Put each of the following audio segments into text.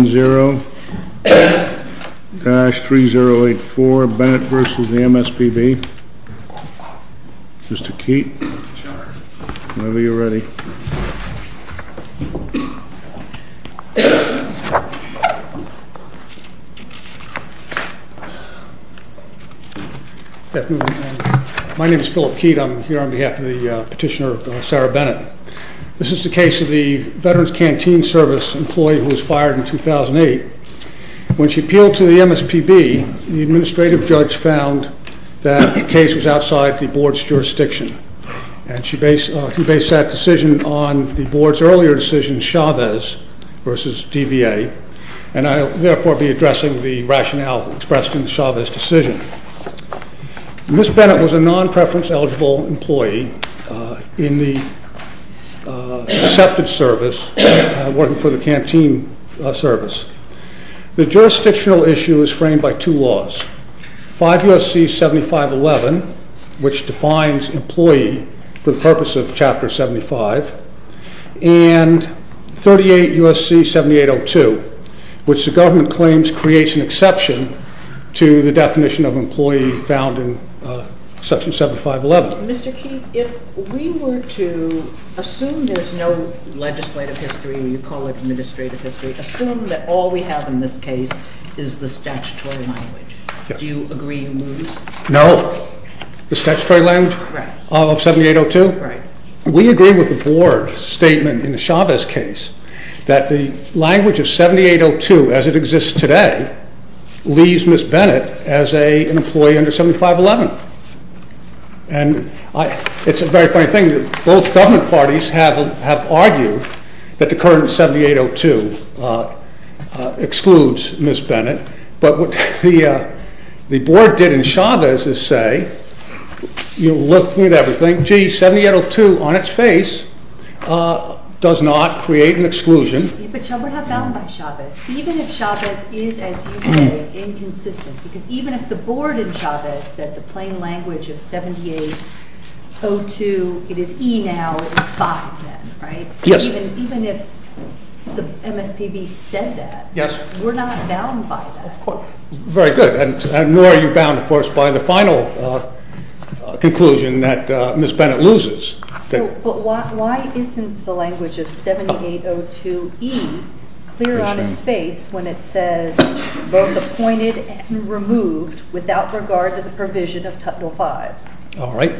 Mr. Keat, whenever you're ready. My name is Philip Keat. I'm here on behalf of the petitioner Sarah Bennett. This is the case of the Veterans Canteen Service employee who was fired in 2008. When she appealed to the MSPB, the administrative judge found that the case was outside the board's jurisdiction, and he based that decision on the board's earlier decision, Chavez v. DVA, and I will therefore be addressing the rationale expressed in Chavez's decision. Ms. Bennett was a non-preference-eligible employee in the acceptance service, working for the Canteen Service. The jurisdictional issue is framed by two laws, 5 U.S.C. 7511, which defines employee for the purpose of Chapter 75, and 38 U.S.C. 7802, which the government claims creates an exception to the definition of employee found in Section 7511. Mr. Keat, if we were to assume there's no legislative history, you call it administrative history, assume that all we have in this case is the statutory language, do you agree you lose? No. The statutory language? Right. Of 7802? Right. We agree with the board's statement in the Chavez case that the language of 7802, as it exists today, leaves Ms. Bennett as an employee under 7511. And it's a very funny thing that both government parties have argued that the current 7802 excludes Ms. Bennett, but what the board did in Chavez's say, you look at everything, gee, 7802 on its face does not create an exclusion. But shall we have found by Chavez, even if Chavez is, as you say, inconsistent, because even if the board in Chavez said the plain language of 7802, it is E now, it is 5 then, right? Yes. Even if the MSPB said that, we're not bound by that. Very good. And nor are you bound, of course, by the final conclusion that Ms. Bennett loses. So, but why isn't the language of 7802E clear on its face when it says both appointed and removed without regard to the provision of Title 5? All right.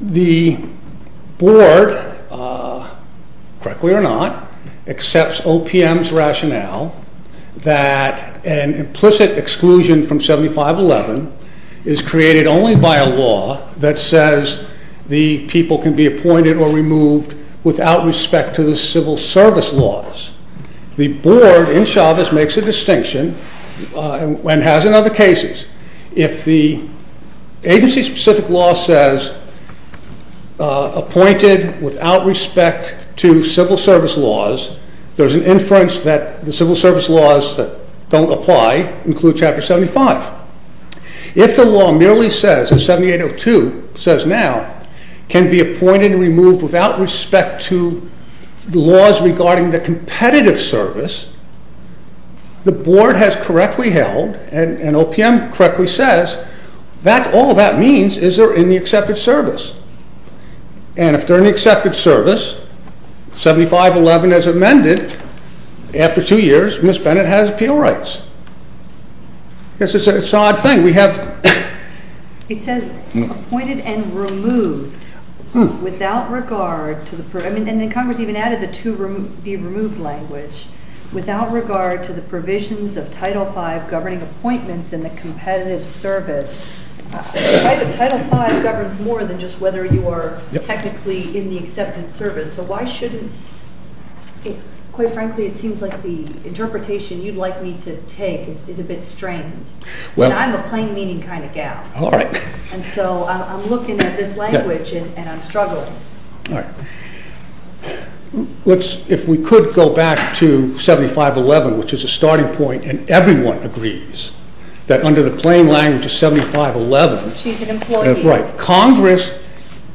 The board, correctly or not, accepts OPM's rationale that an implicit exclusion from 7511 is created only by a law that says the people can be appointed or removed without respect to the civil service laws. The board in Chavez makes a distinction and has in other cases. If the agency-specific law says appointed without respect to civil service laws, there's If the law merely says, as 7802 says now, can be appointed and removed without respect to the laws regarding the competitive service, the board has correctly held and OPM correctly says that all that means is they're in the accepted service. And if they're in the accepted service, 7511 as amended, after two years, Ms. Bennett has appeal rights. I guess it's an odd thing. We have. It says appointed and removed without regard to the, and then Congress even added the to be removed language, without regard to the provisions of Title 5 governing appointments in the competitive service, Title 5 governs more than just whether you are technically in the accepted service. So why shouldn't, quite frankly, it seems like the interpretation you'd like me to take is a bit strained. Well. And I'm a plain meaning kind of gal. All right. And so I'm looking at this language and I'm struggling. All right. Let's, if we could go back to 7511, which is a starting point and everyone agrees that under the plain language of 7511, she's an employee, right, Congress,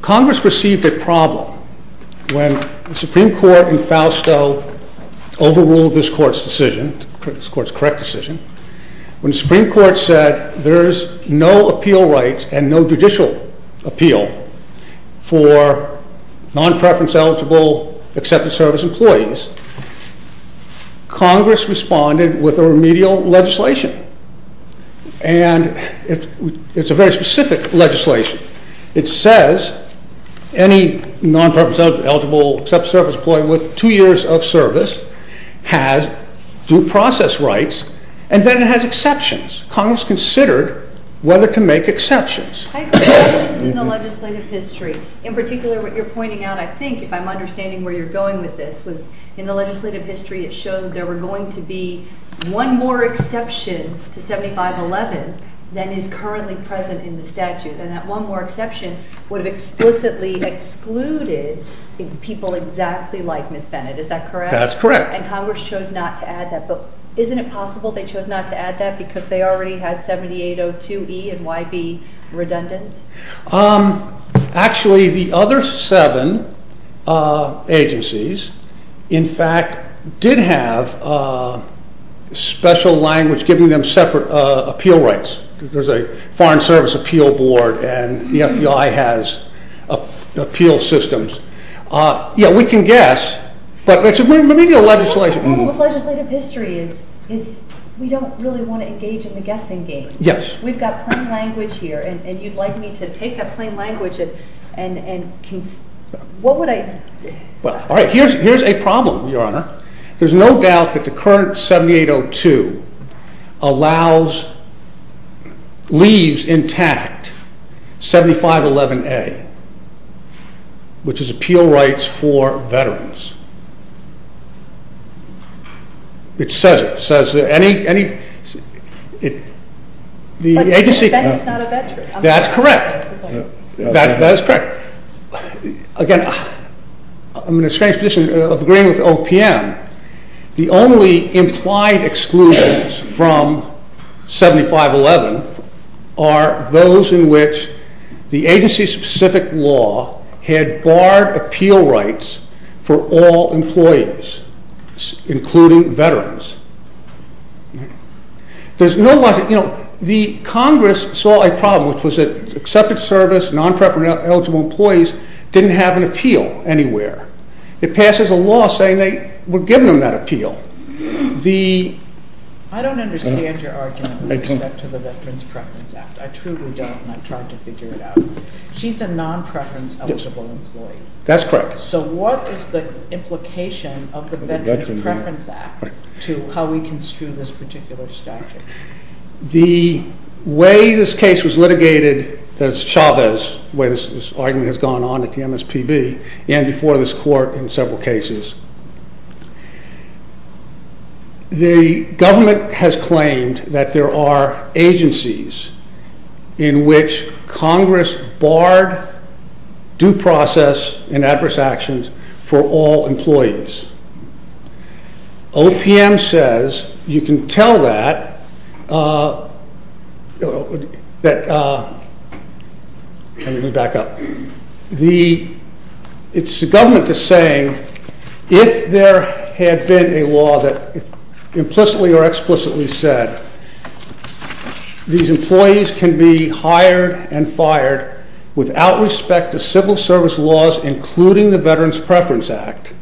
Congress received a problem when the Supreme Court in Fausto overruled this court's decision, this court's correct decision, when the Supreme Court said there's no appeal rights and no judicial appeal for non-preference eligible accepted service employees, Congress responded with a remedial legislation and it's a very specific legislation. It says any non-preference eligible accepted service employee with two years of service has due process rights and then it has exceptions. Congress considered whether to make exceptions. I agree. This is in the legislative history. In particular, what you're pointing out, I think, if I'm understanding where you're going with this, was in the legislative history it showed there were going to be one more exception to 7511 than is currently present in the statute and that one more exception would have explicitly excluded people exactly like Ms. Bennett. Is that correct? That's correct. And Congress chose not to add that, but isn't it possible they chose not to add that because they already had 7802E and YB redundant? Actually the other seven agencies, in fact, did have special language giving them separate appeal rights. There's a Foreign Service Appeal Board and the FBI has appeal systems. Yeah, we can guess, but it's a remedial legislation. What's wrong with legislative history is we don't really want to engage in the guessing game. Yes. We've got plain language here and you'd like me to take that plain language and what would I... Well, all right, here's a problem, Your Honor. There's no doubt that the current 7802 allows, leaves intact 7511A, which is appeal rights for veterans. It says it. It says that any... The agency... But Ms. Bennett's not a veteran. That's correct. That's correct. Again, I'm in a strange position of agreeing with OPM. The only implied exclusions from 7511 are those in which the agency-specific law had barred appeal rights for all employees, including veterans. There's no... The Congress saw a problem, which was that accepted service, non-preference-eligible employees didn't have an appeal anywhere. It passes a law saying they were given that appeal. I don't understand your argument with respect to the Veterans Preference Act. I truly don't and I tried to figure it out. She's a non-preference-eligible employee. That's correct. So what is the implication of the Veterans Preference Act to how we construe this particular statute? The way this case was litigated, that's Chavez, the way this argument has gone on at the MSPB and before this court in several cases, the government has claimed that there are agencies in which Congress barred due process and adverse actions for all employees. OPM says you can tell that... Let me back up. It's the government that's saying if there had been a law that implicitly or explicitly said these employees can be hired and fired without respect to civil service laws, including the Veterans Preference Act,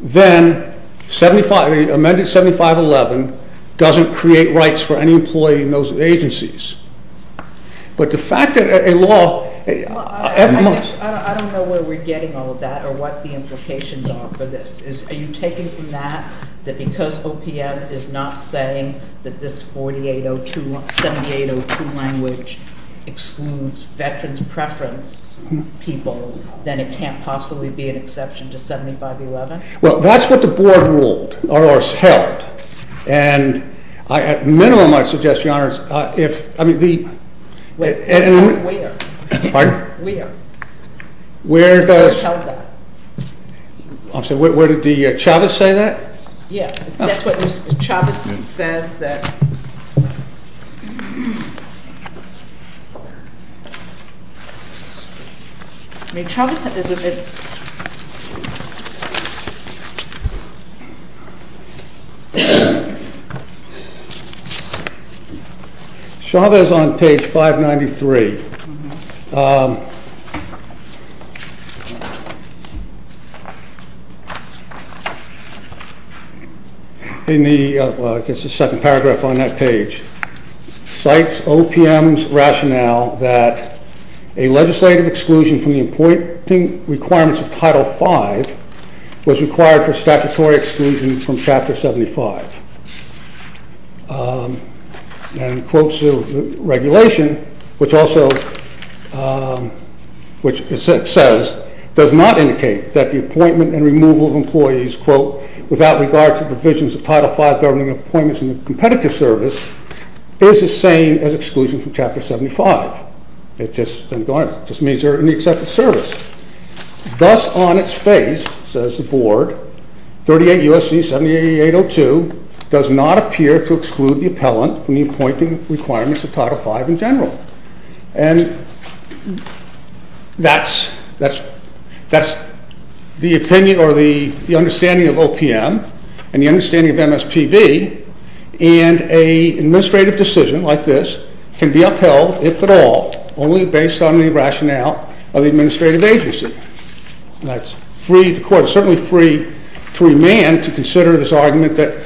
then the amended 7511 doesn't create rights for any employee in those agencies. But the fact that a law... I don't know where we're getting all of that or what the implications are for this. Are you taking from that that because OPM is not saying that this 7802 language excludes veterans preference people, then it can't possibly be an exception to 7511? Well, that's what the board ruled or held. And at minimum, I suggest, Your Honors, if... I mean, the... Where? Pardon? Where? Where does... They held that. Where did the Chavez say that? Yeah. That's what Chavez says. Chavez is on page 593. In the... In the paragraph on that page, cites OPM's rationale that a legislative exclusion from the appointing requirements of Title V was required for statutory exclusion from Chapter 75, and quotes the regulation, which also... Which says, does not indicate that the appointment and removal of employees, quote, without regard to provisions of Title V government appointments in the competitive service, is the same as exclusion from Chapter 75. It just doesn't... It just means they're in the accepted service. Thus, on its face, says the board, 38 U.S.C. 7802 does not appear to exclude the appellant from the appointing requirements of Title V in general. And that's the opinion or the understanding of OPM and the understanding of MSPB, and an administrative decision like this can be upheld, if at all, only based on the rationale of the administrative agency. That's free... The court is certainly free to remand, to consider this argument that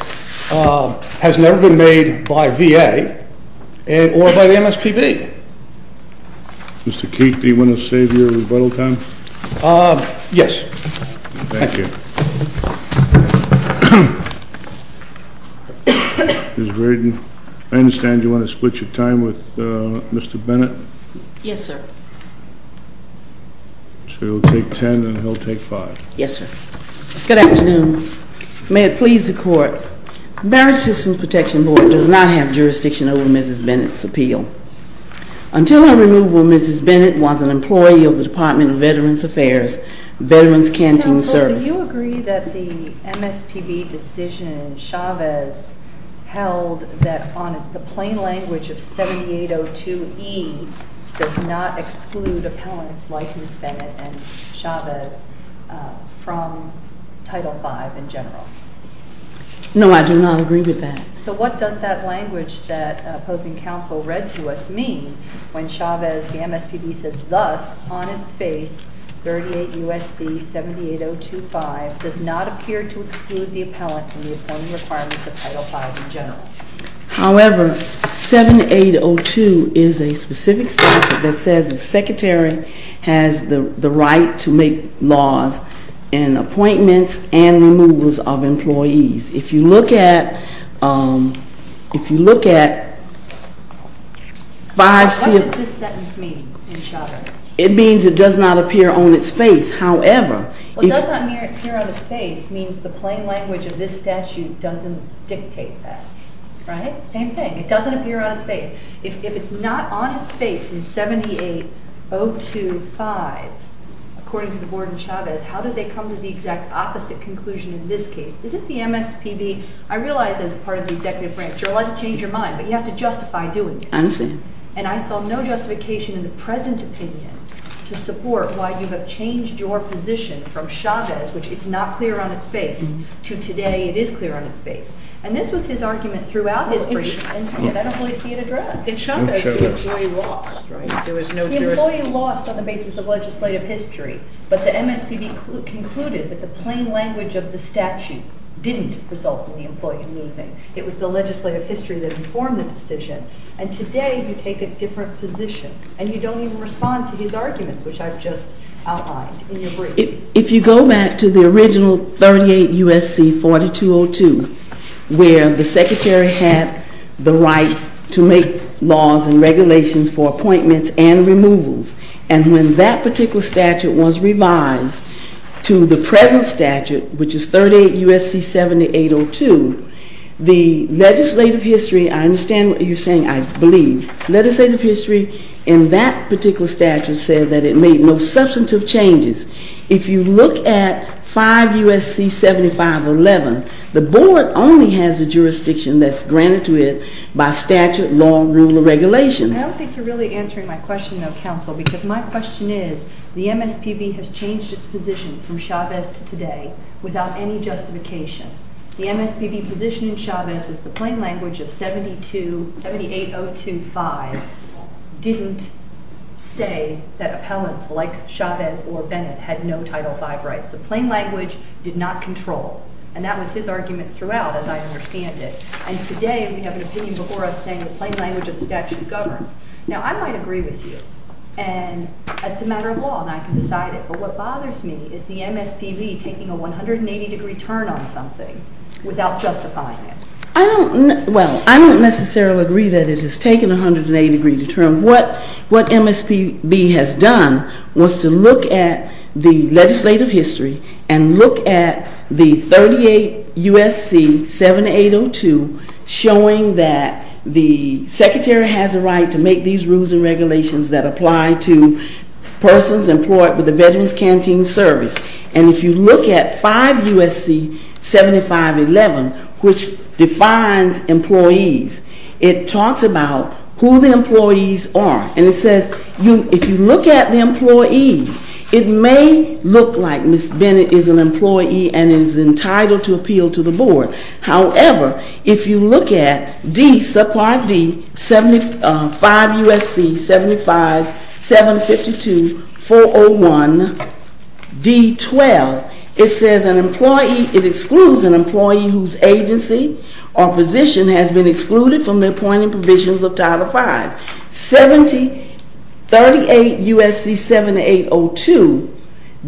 has never been made by VA or by the MSPB. KEEFE. Mr. Keefe, do you want to save your rebuttal time? KEEFE. Yes. MR. KEEFE. Thank you. Ms. Braden, I understand you want to split your time with Mr. Bennett. MS. Yes, sir. MR. KEEFE. So you'll take 10 and he'll take 5. MS. BRADEN. Yes, sir. Good afternoon. Good afternoon. May it please the Court. The Barrett Systems Protection Board does not have jurisdiction over Mrs. Bennett's appeal. Until her removal, Mrs. Bennett was an employee of the Department of Veterans Affairs, Veterans Canteen Service. MS. BRADEN. Counsel, do you agree that the MSPB decision Chavez held that, on the plain language of Title V in general? MS. BRADEN. No, I do not agree with that. MS. BRADEN. So what does that language that opposing counsel read to us mean when Chavez, the MSPB, says, thus, on its face, 38 U.S.C. 78025, does not appear to exclude the appellant from the appointing requirements of Title V in general? MS. BRADEN. However, 7802 is a specific statute that says the Secretary has the right to make laws and appointments and removals of employees. If you look at 5-7- MS. BRADEN. What does this sentence mean in Chavez? MS. BRADEN. It means it does not appear on its face. However, if- MS. BRADEN. Well, does not appear on its face means the plain language of this statute doesn't dictate that. Right? Same thing. on its face? MS. BRADEN. It doesn't appear on its face. MS. BRADEN. Okay. MS. BRADEN. Okay. MS. Now, I want to ask you a question. How do they come to the exact opposite conclusion in this case? Isn't the MSPB-I realize, as a part of the Executive Branch, you're allowed to change your mind, but you have to justify doing it. MS. BRADEN. I understand. MS. BRADEN. And I saw no justification in the present opinion to support why you have changed your position from Chavez, which it's not clear on its face, to today it is clear on its face. And this was his argument throughout his brief, and you can evidently see it addressed. MS. CHAUNCEY. And Chavez is the employee lost, right? There was no- MS. BRADEN. The employee lost on the basis of legislative history. But the MSPB concluded that the plain language of the statute didn't result in the employee losing. It was the legislative history that informed the decision. And today you take a different position, and you don't even respond to his arguments, which I've just outlined in your brief. MS. CHAUNCEY. If you go back to the original 38 U.S.C. 4202, where the Secretary had the right to make laws and regulations for appointments and removals, and when that particular statute was revised to the present statute, which is 38 U.S.C. 7802, the legislative history – I understand what you're saying, I believe – legislative history in that particular statute said that it made no substantive changes. If you look at 5 U.S.C. 7511, the board only has the jurisdiction that's granted to it by statute, law, and rule of regulation. NISBET. I don't think you're really answering my question, though, Counsel, because my question is, the MSPB has changed its position from Chavez to today without any justification. The MSPB position in Chavez was the plain language of 7802.5 didn't say that appellants like Chavez or Bennett had no Title V rights. The plain language did not control. And that was his argument throughout, as I understand it. And today, we have an opinion before us saying the plain language of the statute governs. Now, I might agree with you, and that's a matter of law, and I can decide it. But what bothers me is the MSPB taking a 180-degree turn on something without justifying it. COUNSELOR HARRIS. I don't – well, I don't necessarily agree that it has taken a 180-degree turn. What MSPB has done was to look at the legislative history and look at the 38 U.S.C. 7802 showing that the Secretary has a right to make these rules and regulations that apply to persons employed with the Veterans Canteen Service. And if you look at 5 U.S.C. 7511, which defines employees, it talks about who the employees are. And it says if you look at the employees, it may look like Ms. Bennett is an employee and is entitled to appeal to the board. However, if you look at D, subpart D, 5 U.S.C. 75752-401-D12, it says an employee – it excludes an employee whose agency or position has been excluded from the appointed provisions of Title V. Thirty-eight U.S.C. 7802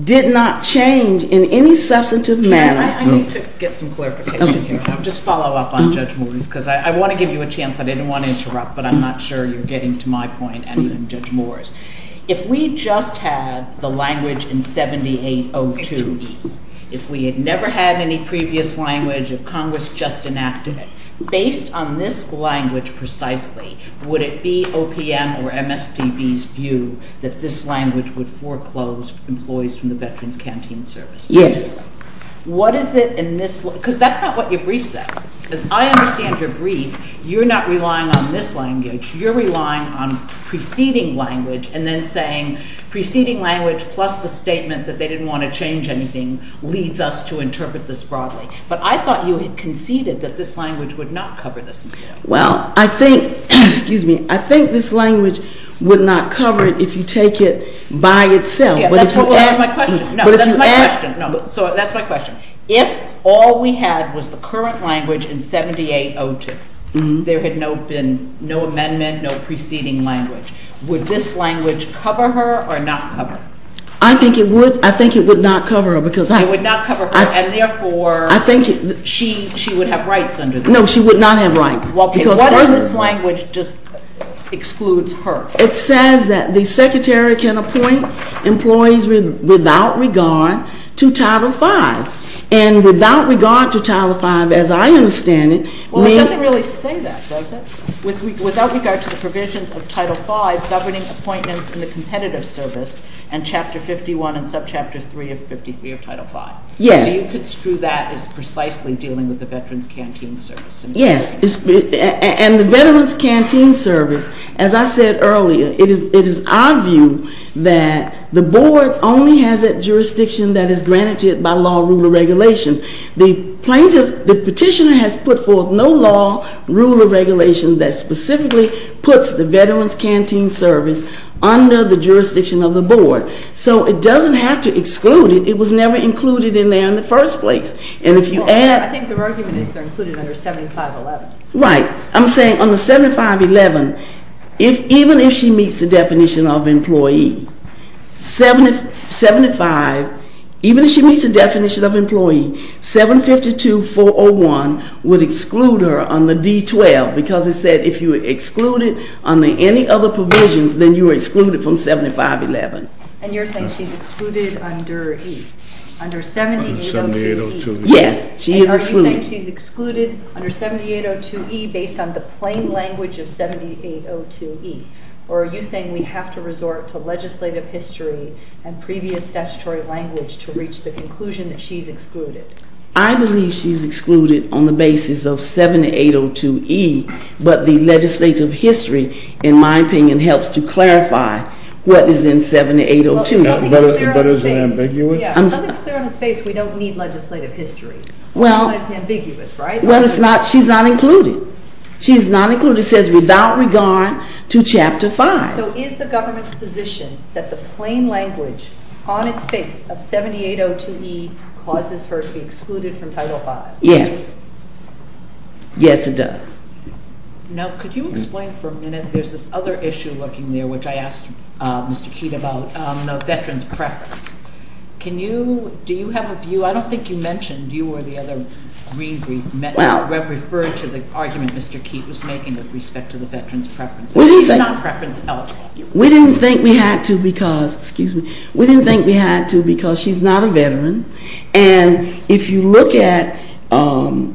did not change in any substantive manner. I need to get some clarification here. I'll just follow up on Judge Morris because I want to give you a chance. I didn't want to interrupt, but I'm not sure you're getting to my point and Judge Morris. If we just had the language in 7802, if we had never had any previous language, if Congress just enacted it, based on this language precisely, would it be OPM or MSPB's view that this language would foreclose employees from the Veterans Canteen Service? Yes. What is it in this – because that's not what your brief says. As I understand your brief, you're not relying on this language. You're relying on preceding language and then saying preceding language plus the statement that they didn't want to change anything leads us to interpret this broadly. But I thought you had conceded that this language would not cover this appeal. Well, I think – excuse me – I think this language would not cover it if you take it by itself. But if you add – That's my question. No, that's my question. No, so that's my question. If all we had was the current language in 7802, there had been no amendment, no preceding language, would this language cover her or not cover her? I think it would – I think it would not cover her because I – It would not cover her and therefore – I think – She would have rights under this. No, she would not have rights. Well, okay, what if this language just excludes her? It says that the Secretary can appoint employees without regard to Title V. And without regard to Title V, as I understand it, we – Well, it doesn't really say that, does it? Without regard to the provisions of Title V governing appointments in the Competitive Service and Chapter 51 and Subchapter 3 of 53 of Title V. Yes. So you could screw that as precisely dealing with the Veterans Canteen Service. Yes. And the Veterans Canteen Service, as I said earlier, it is our view that the Board only has that jurisdiction that is granted to it by law, rule, or regulation. The plaintiff – the petitioner has put forth no law, rule, or regulation that specifically puts the Veterans Canteen Service under the jurisdiction of the Board. So it doesn't have to exclude it. It was never included in there in the first place. And if you add – I think the argument is they're included under 7511. Right. I'm saying under 7511, even if she meets the definition of employee, 75 – even if she meets the definition of employee, 752-401 would exclude her on the D-12 because it said if you excluded under any other provisions, then you were excluded from 7511. And you're saying she's excluded under – under 7802-D? Under 7802-D. Yes. She is excluded. And are you saying she's excluded under 7802-E based on the plain language of 7802-E? Or are you saying we have to resort to legislative history and previous statutory language to reach the conclusion that she's excluded? I believe she's excluded on the basis of 7802-E, but the legislative history, in my opinion, helps to clarify what is in 7802-E. Well, there's something clear on its face. But is it ambiguous? Yeah. Something's clear on its face. We don't need legislative history. Well – But it's ambiguous, right? Well, it's not – she's not included. She's not included. It says without regard to Chapter 5. So is the government's position that the plain language on its face of 7802-E causes her to be excluded from Title V? Yes. Yes, it does. Now, could you explain for a minute – there's this other issue lurking there, which I asked Mr. Keat about – no, Veterans Preference. Can you – do you have a view? I don't think you mentioned you or the other – Well –– referred to the argument Mr. Keat was making with respect to the Veterans Preference. She's not preference eligible. We didn't think we had to because – excuse me. And if you look at 5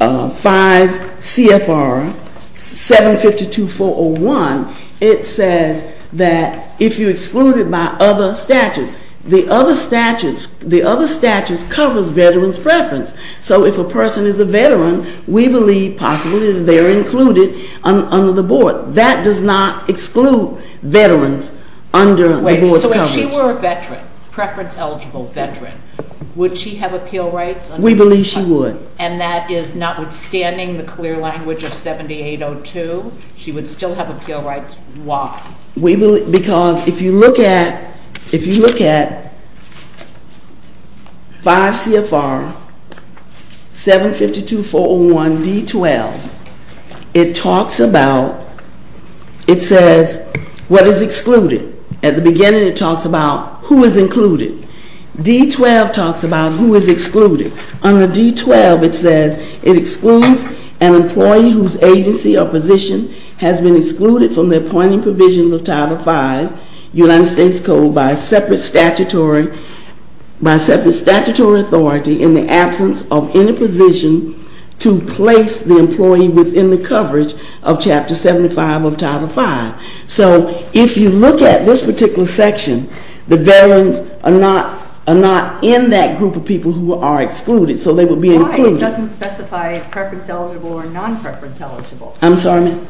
CFR 752-401, it says that if you're excluded by other statutes, the other statutes – the other statutes covers Veterans Preference. So if a person is a veteran, we believe possibly they're included under the board. That does not exclude veterans under the board's coverage. If she were a veteran, preference eligible veteran, would she have appeal rights? We believe she would. And that is notwithstanding the clear language of 7802, she would still have appeal rights. Why? Because if you look at – if you look at 5 CFR 752-401-D12, it talks about – it says what is excluded. At the beginning, it talks about who is included. D12 talks about who is excluded. Under D12, it says it excludes an employee whose agency or position has been excluded from the appointing provisions of Title V, United States Code, by separate statutory – by separate statutory authority in the absence of any position to place the employee within the coverage of Chapter 75 of Title V. So if you look at this particular section, the veterans are not – are not in that group of people who are excluded, so they would be included. Why? It doesn't specify preference eligible or non-preference eligible. I'm sorry, ma'am?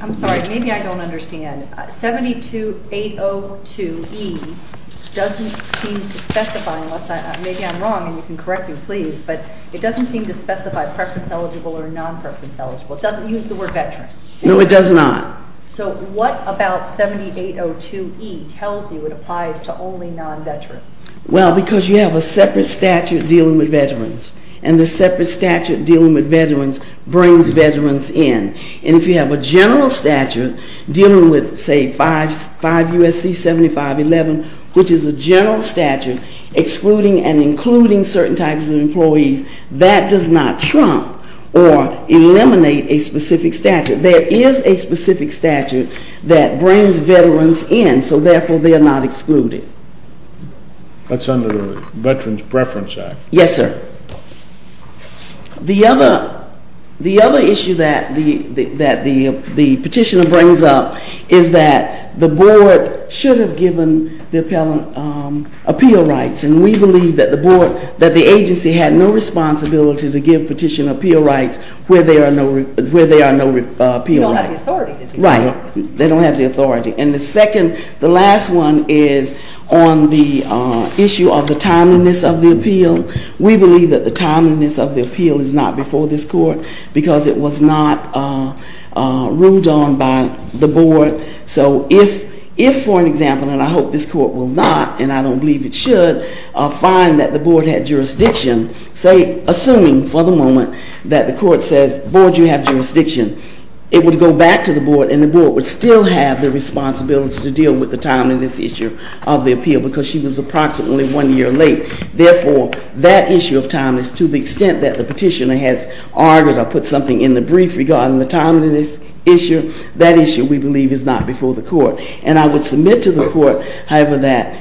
I'm sorry. Maybe I don't understand. 72802E doesn't seem to specify – unless I – maybe I'm wrong and you can correct me, please – but it doesn't seem to specify preference eligible or non-preference eligible. It doesn't use the word veteran. No, it does not. So what about 7802E tells you it applies to only non-veterans? Well, because you have a separate statute dealing with veterans. And the separate statute dealing with veterans brings veterans in. And if you have a general statute dealing with, say, 5 – 5 U.S.C. 7511, which is a general statute excluding and including certain types of employees, that does not trump or eliminate a specific statute. There is a specific statute that brings veterans in, so therefore they are not excluded. That's under the Veterans Preference Act. Yes, sir. The other issue that the petitioner brings up is that the board should have given the appeal rights. And we believe that the agency had no responsibility to give petitioner appeal rights where there are no appeal rights. You don't have the authority to do that. Right, they don't have the authority. And the second – the last one is on the issue of the timeliness of the appeal. We believe that the timeliness of the appeal is not before this court because it was not ruled on by the board. So if, for an example, and I hope this court will not, and I don't believe it should, find that the board had jurisdiction, say, assuming for the moment that the court says, Board, you have jurisdiction, it would go back to the board and the board would still have the responsibility to deal with the timeliness issue of the appeal because she was approximately one year late. Therefore, that issue of timeliness, to the extent that the petitioner has argued or put something in the brief regarding the timeliness issue, that issue we believe is not before the court. And I would submit to the court, however, that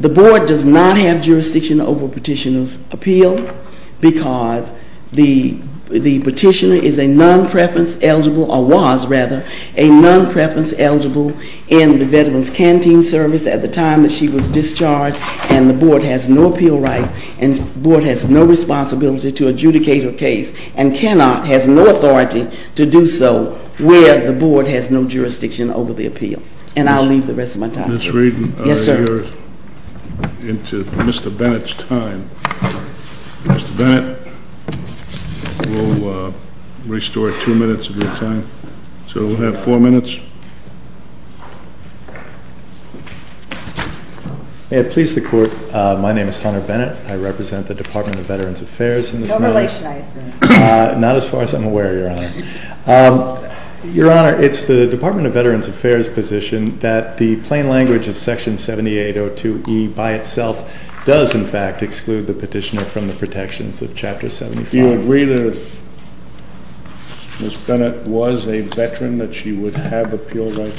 the board does not have jurisdiction over petitioner's appeal because the petitioner is a non-preference eligible, or was, rather, a non-preference eligible in the Veterans Canteen Service at the time that she was discharged and the board has no appeal rights and the board has no responsibility to adjudicate her case and cannot, has no authority to do so where the board has no jurisdiction over the appeal. And I'll leave the rest of my time to you. Ms. Reardon, you're into Mr. Bennett's time. Mr. Bennett, we'll restore two minutes of your time. So we'll have four minutes. May it please the court, my name is Hunter Bennett. I represent the Department of Veterans Affairs in this matter. Why should I assume? Not as far as I'm aware, Your Honor. Your Honor, it's the Department of Veterans Affairs position that the plain language of Section 7802E by itself does, in fact, exclude the petitioner from the protections of Chapter 75. Do you agree that if Ms. Bennett was a veteran that she would have appeal rights?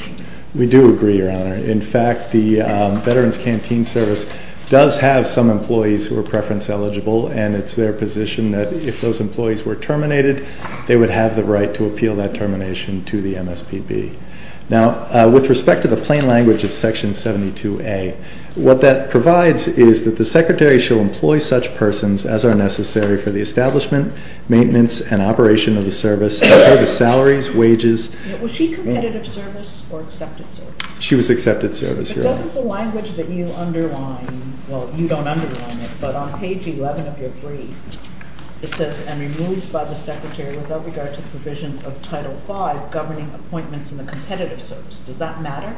We do agree, Your Honor. In fact, the Veterans Canteen Service does have some employees who are preference eligible and it's their position that if those employees were terminated, they would have the right to appeal that termination to the MSPB. Now, with respect to the plain language of Section 7802A, what that provides is that the Secretary shall employ such persons as are necessary for the establishment, maintenance, and operation of the service, and for the salaries, wages. Was she committed of service or accepted service? She was accepted service, Your Honor. But doesn't the language that you underline, well, you don't underline it, but on page 11 of your brief, it says, and removed by the Secretary without regard to provisions of Title V, governing appointments in the competitive service. Does that matter?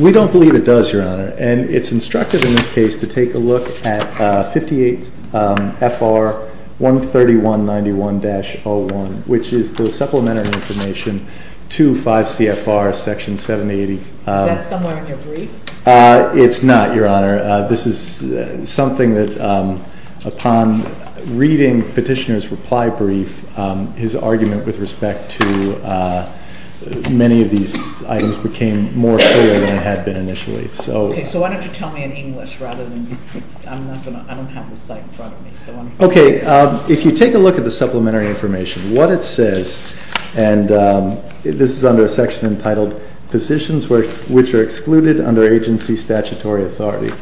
We don't believe it does, Your Honor. And it's instructive in this case to take a look at 58 FR 13191-01, which is the supplementary information to 5 CFR Section 780. Is that somewhere in your brief? It's not, Your Honor. This is something that upon reading Petitioner's reply brief, his argument with respect to many of these items became more clear than it had been initially. Okay. So why don't you tell me in English rather than, I don't have the site in front of me. Okay. If you take a look at the supplementary information, what it says, and this is under a section entitled, Positions which are excluded under agency statutory authority.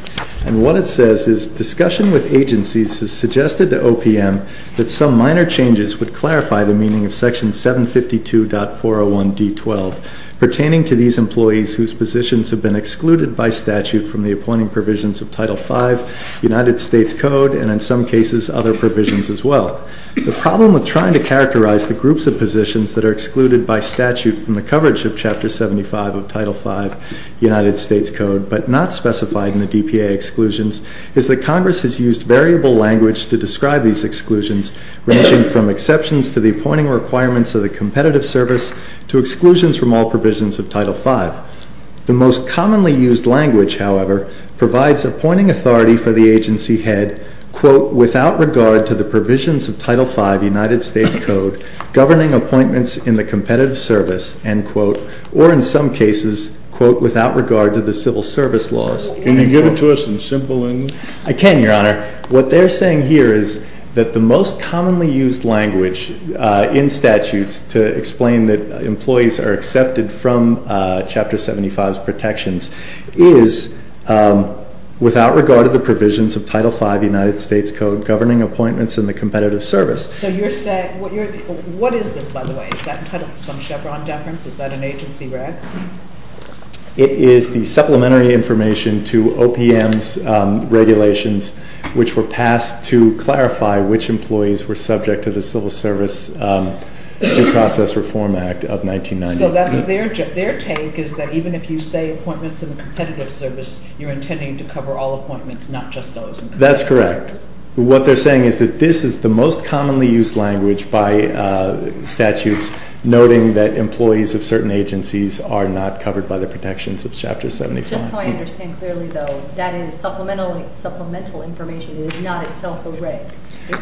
And what it says is, discussion with agencies has suggested to OPM that some minor changes would clarify the meaning of Section 752.401D12, pertaining to these employees whose positions have been excluded by statute from the appointing provisions of Title V, United States Code, and in some cases, other provisions as well. The problem with trying to characterize the groups of positions that are Title V, United States Code, but not specified in the DPA exclusions, is that Congress has used variable language to describe these exclusions, ranging from exceptions to the appointing requirements of the competitive service to exclusions from all provisions of Title V. The most commonly used language, however, provides appointing authority for the agency head, quote, without regard to the provisions of Title V, United States Code, governing appointments in the competitive service, end quote, or in some cases, quote, without regard to the civil service laws. Can you give it to us in simple English? I can, Your Honor. What they're saying here is that the most commonly used language in statutes to explain that employees are accepted from Chapter 75's protections is, without regard to the provisions of Title V, United States Code, governing appointments in the competitive service. So you're saying, what is this, by the way? Is that entitled to some Chevron deference? Is that an agency reg? It is the supplementary information to OPM's regulations which were passed to clarify which employees were subject to the Civil Service Due Process Reform Act of 1990. So that's their take, is that even if you say appointments in the competitive service, you're intending to cover all appointments, not just those in the competitive service? That's correct. What they're saying is that this is the most commonly used language by statutes noting that employees of certain agencies are not covered by the protections of Chapter 75. Just so I understand clearly, though, that is supplemental information. It is not itself a reg.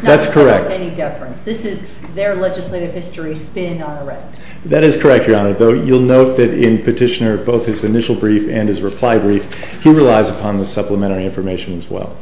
That's correct. It's not entitled to any deference. This is their legislative history spin on a reg. That is correct, Your Honor, though you'll note that in Petitioner, both his initial brief and his reply brief, he relies upon the supplementary information as well.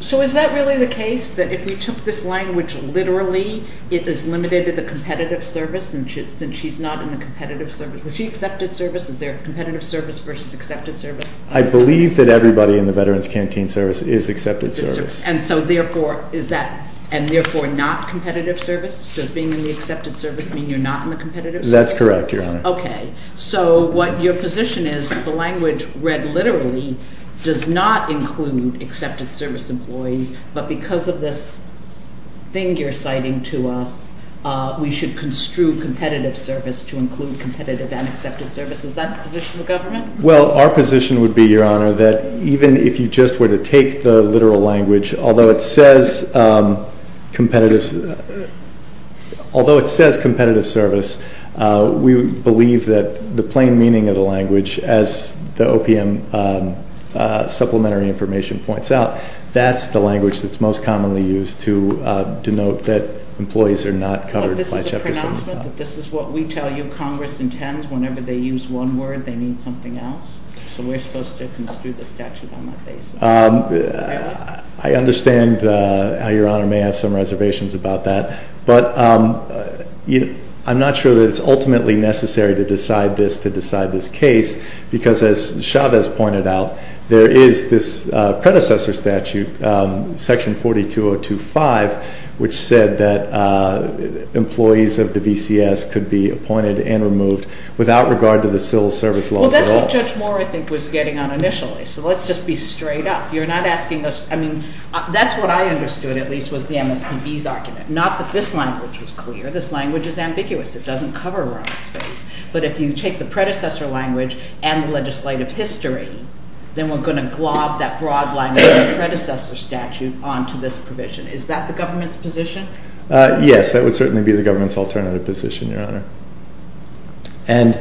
So is that really the case, that if we took this language literally, it is limited to the competitive service, and since she's not in the competitive service, was she accepted service? Is there a competitive service versus accepted service? I believe that everybody in the Veterans Canteen Service is accepted service. And so therefore, is that, and therefore not competitive service? Does being in the accepted service mean you're not in the competitive service? That's correct, Your Honor. Okay. So what your position is, the language read literally does not include accepted service employees, but because of this thing you're citing to us, we should construe competitive service to include competitive and accepted service. Is that the position of the government? Well, our position would be, Your Honor, that even if you just were to take the literal language, although it says competitive, although it says competitive service, we believe that the plain meaning of the language, as the OPM supplementary information points out, that's the language that's most commonly used to denote that employees are not covered by Jefferson. But this is a pronouncement? This is what we tell you Congress intends? Whenever they use one word, they mean something else? So we're supposed to construe the statute on that basis? I understand how Your Honor may have some reservations about that, but I'm not sure that it's ultimately necessary to decide this to decide this case. Because as Chavez pointed out, there is this predecessor statute, Section 42025, which said that employees of the VCS could be appointed and removed without regard to the civil service laws at all. Well, that's what Judge Moore, I think, was getting on initially. So let's just be straight up. You're not asking us, I mean, that's what I understood, at least, was the MSPB's argument. Not that this language was clear. This language is ambiguous. It doesn't cover Roman space. But if you take the predecessor language and the legislative history, then we're going to glob that broad language of the predecessor statute onto this provision. Is that the government's position? Yes, that would certainly be the government's alternative position, Your Honor. And,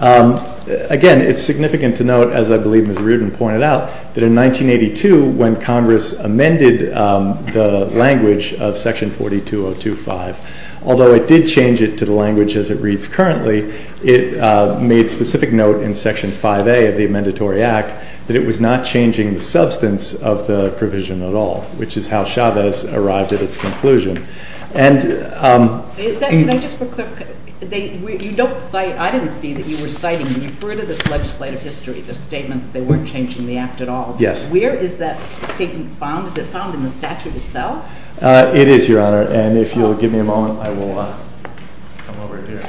again, it's significant to note, as I believe Ms. Reardon pointed out, that in 1982, when Congress amended the language of Section 42025, although it did change it to the language as it reads currently, it made specific note in Section 5A of the Amendatory Act that it was not changing the substance of the provision at all, which is how Chavez arrived at its conclusion. Can I just put a clarification? You don't cite, I didn't see that you were citing, you referred to this legislative history, the statement that they weren't changing the act at all. Yes. Where is that statement found? Is it found in the statute itself? It is, Your Honor, and if you'll give me a moment, I will come over here.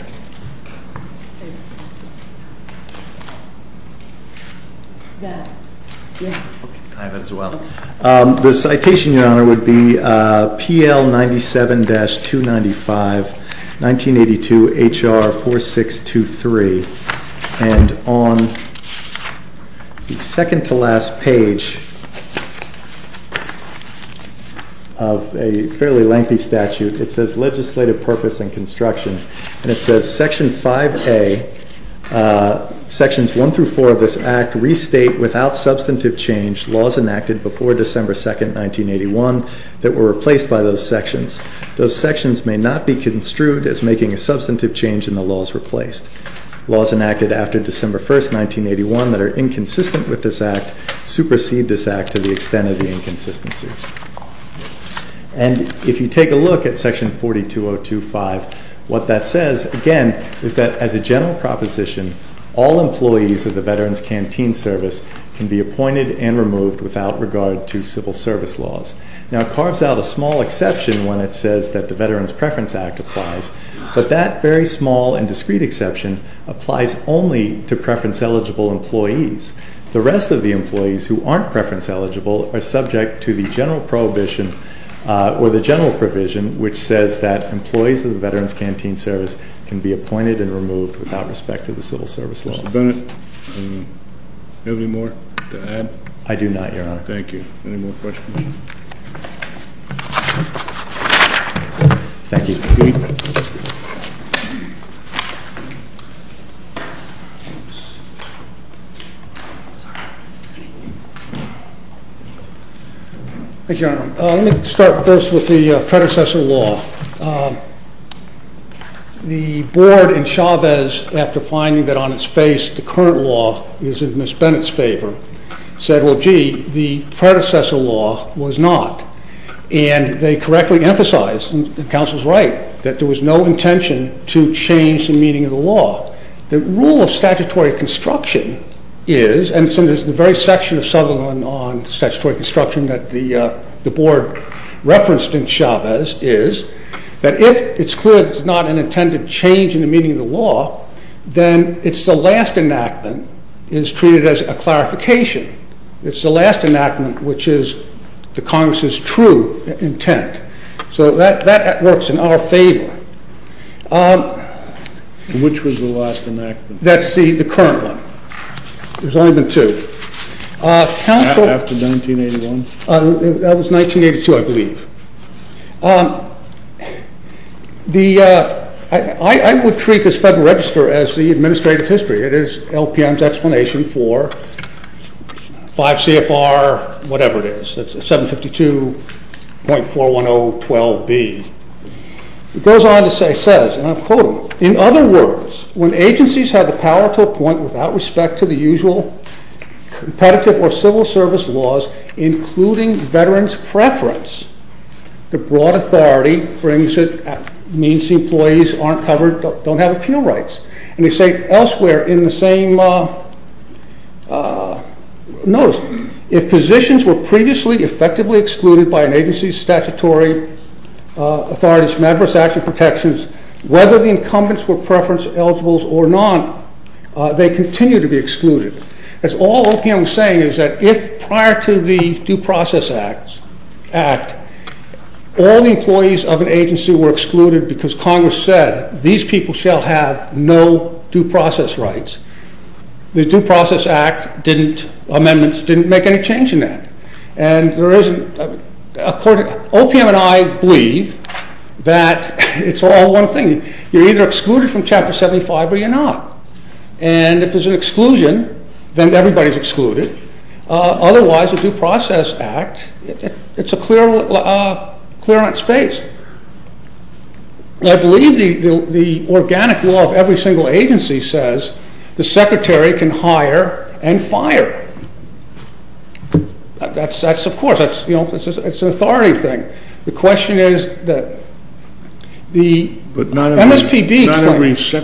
I have it as well. The citation, Your Honor, would be PL 97-295, 1982, HR 4623. And on the second-to-last page of a fairly lengthy statute, it says Legislative Purpose and Construction, and it says Section 5A, Sections 1 through 4 of this Act, restate without substantive change laws enacted before December 2, 1981, that were replaced by those sections. Those sections may not be construed as making a substantive change and the laws replaced. Laws enacted after December 1, 1981, that are inconsistent with this Act, supersede this Act to the extent of the inconsistencies. And if you take a look at Section 42025, what that says, again, is that as a general proposition, all employees of the Veterans Canteen Service can be appointed and removed without regard to civil service laws. Now it carves out a small exception when it says that the Veterans Preference Act applies, but that very small and discrete exception applies only to preference-eligible employees. The rest of the employees who aren't preference-eligible are subject to the general prohibition or the general provision which says that employees of the Veterans Canteen Service can be appointed and removed without respect to the civil service laws. Mr. Bennett, do you have any more to add? I do not, Your Honor. Thank you. Any more questions? Thank you. Thank you, Your Honor. Let me start first with the predecessor law. The board in Chavez, after finding that on its face the current law is in Ms. Bennett's favor, said, well, gee, the predecessor law was not. And they correctly emphasized, and the counsel is right, that there was no intention to change the meaning of the law. The rule of statutory construction is, and so there's the very section of Southerland on statutory construction that the board referenced in Chavez, is that if it's clear there's not an intended change in the meaning of the law, then it's the last enactment is treated as a clarification. It's the last enactment which is the Congress's true intent. So that works in our favor. Which was the last enactment? That's the current one. There's only been two. After 1981? That was 1982, I believe. I would treat this Federal Register as the administrative history. It is LPM's explanation for 5 CFR, whatever it is, 752.41012B. It goes on to say, says, and I'll quote him, in other words, when agencies have the power to appoint without respect to the usual competitive or civil service laws, including veterans' preference, the broad authority brings it, means the employees aren't covered, don't have appeal rights. And they say elsewhere in the same notice, if positions were previously effectively excluded by an agency's statutory authorities from adverse action protections, whether the incumbents were preference eligibles or not, they continue to be excluded. As all LPM is saying is that if prior to the Due Process Act, all the employees of an agency were excluded because Congress said these people shall have no due process rights, the Due Process Act didn't, amendments didn't make any change in that. And there isn't, according, OPM and I believe that it's all one thing. You're either excluded from Chapter 75 or you're not. And if there's an exclusion, then everybody's excluded. Otherwise, the Due Process Act, it's a clear, clear on its face. I believe the organic law of every single agency says the secretary can hire and fire. That's, that's, of course, that's, you know, it's an authority thing. The question is that the MSPB... ...has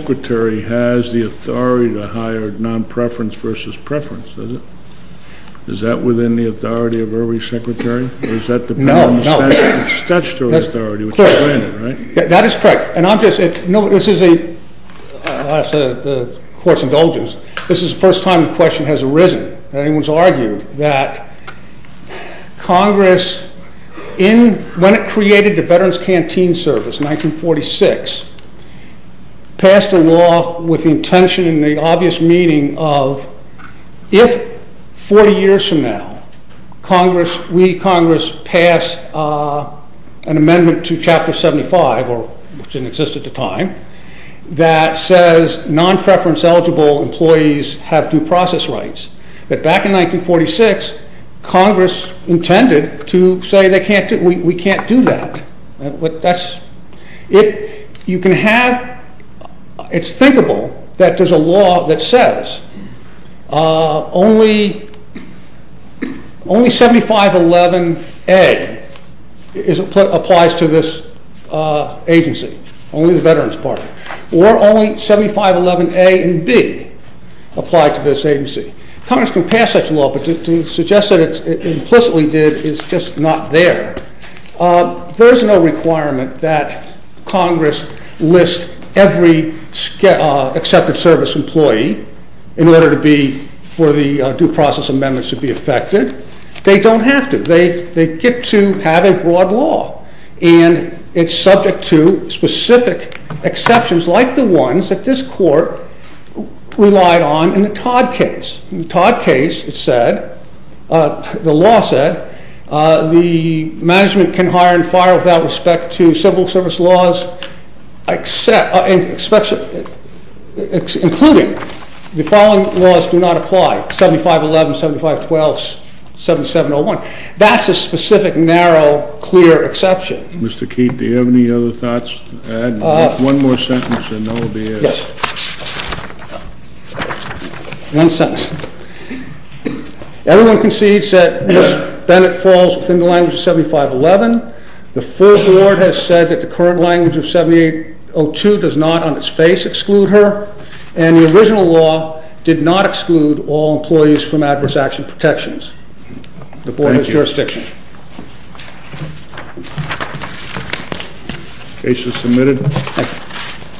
the authority to hire non-preference versus preference, does it? Is that within the authority of every secretary? Or does that depend on the statutory authority? That is correct. And I'm just, you know, this is a, I'll ask the Court's indulgence, this is the first time the question has arisen that anyone's argued that Congress, when it created the Veterans Canteen Service in 1946, passed a law with the intention and the obvious meaning of, if 40 years from now, Congress, we, Congress, pass an amendment to Chapter 75, which didn't exist at the time, that says non-preference eligible employees have due process rights, that back in 1946, Congress intended to say they can't, we can't do that. That's, if you can have, it's thinkable that there's a law that says only, only 7511A applies to this agency, only the Veterans Party, or only 7511A and B apply to this agency. Congress can pass such a law, but to suggest that it implicitly did is just not there. There's no requirement that Congress list every accepted service employee in order to be, for the due process amendments to be effected. They don't have to. They get to have a broad law, and it's subject to specific exceptions, like the ones that this Court relied on in the Todd case. In the Todd case, it said, the law said, the management can hire and fire without respect to civil service laws except, including the following laws do not apply, 7511, 7512, 7701. That's a specific, narrow, clear exception. Mr. Keat, do you have any other thoughts to add? One more sentence and then I'll be it. Yes. One sentence. Everyone concedes that Ms. Bennett falls within the language of 7511. The full Board has said that the current language of 7802 does not on its face exclude her, and the original law did not exclude all employees from adverse action protections. The Board has jurisdiction. Thank you. Case is submitted. Thank you.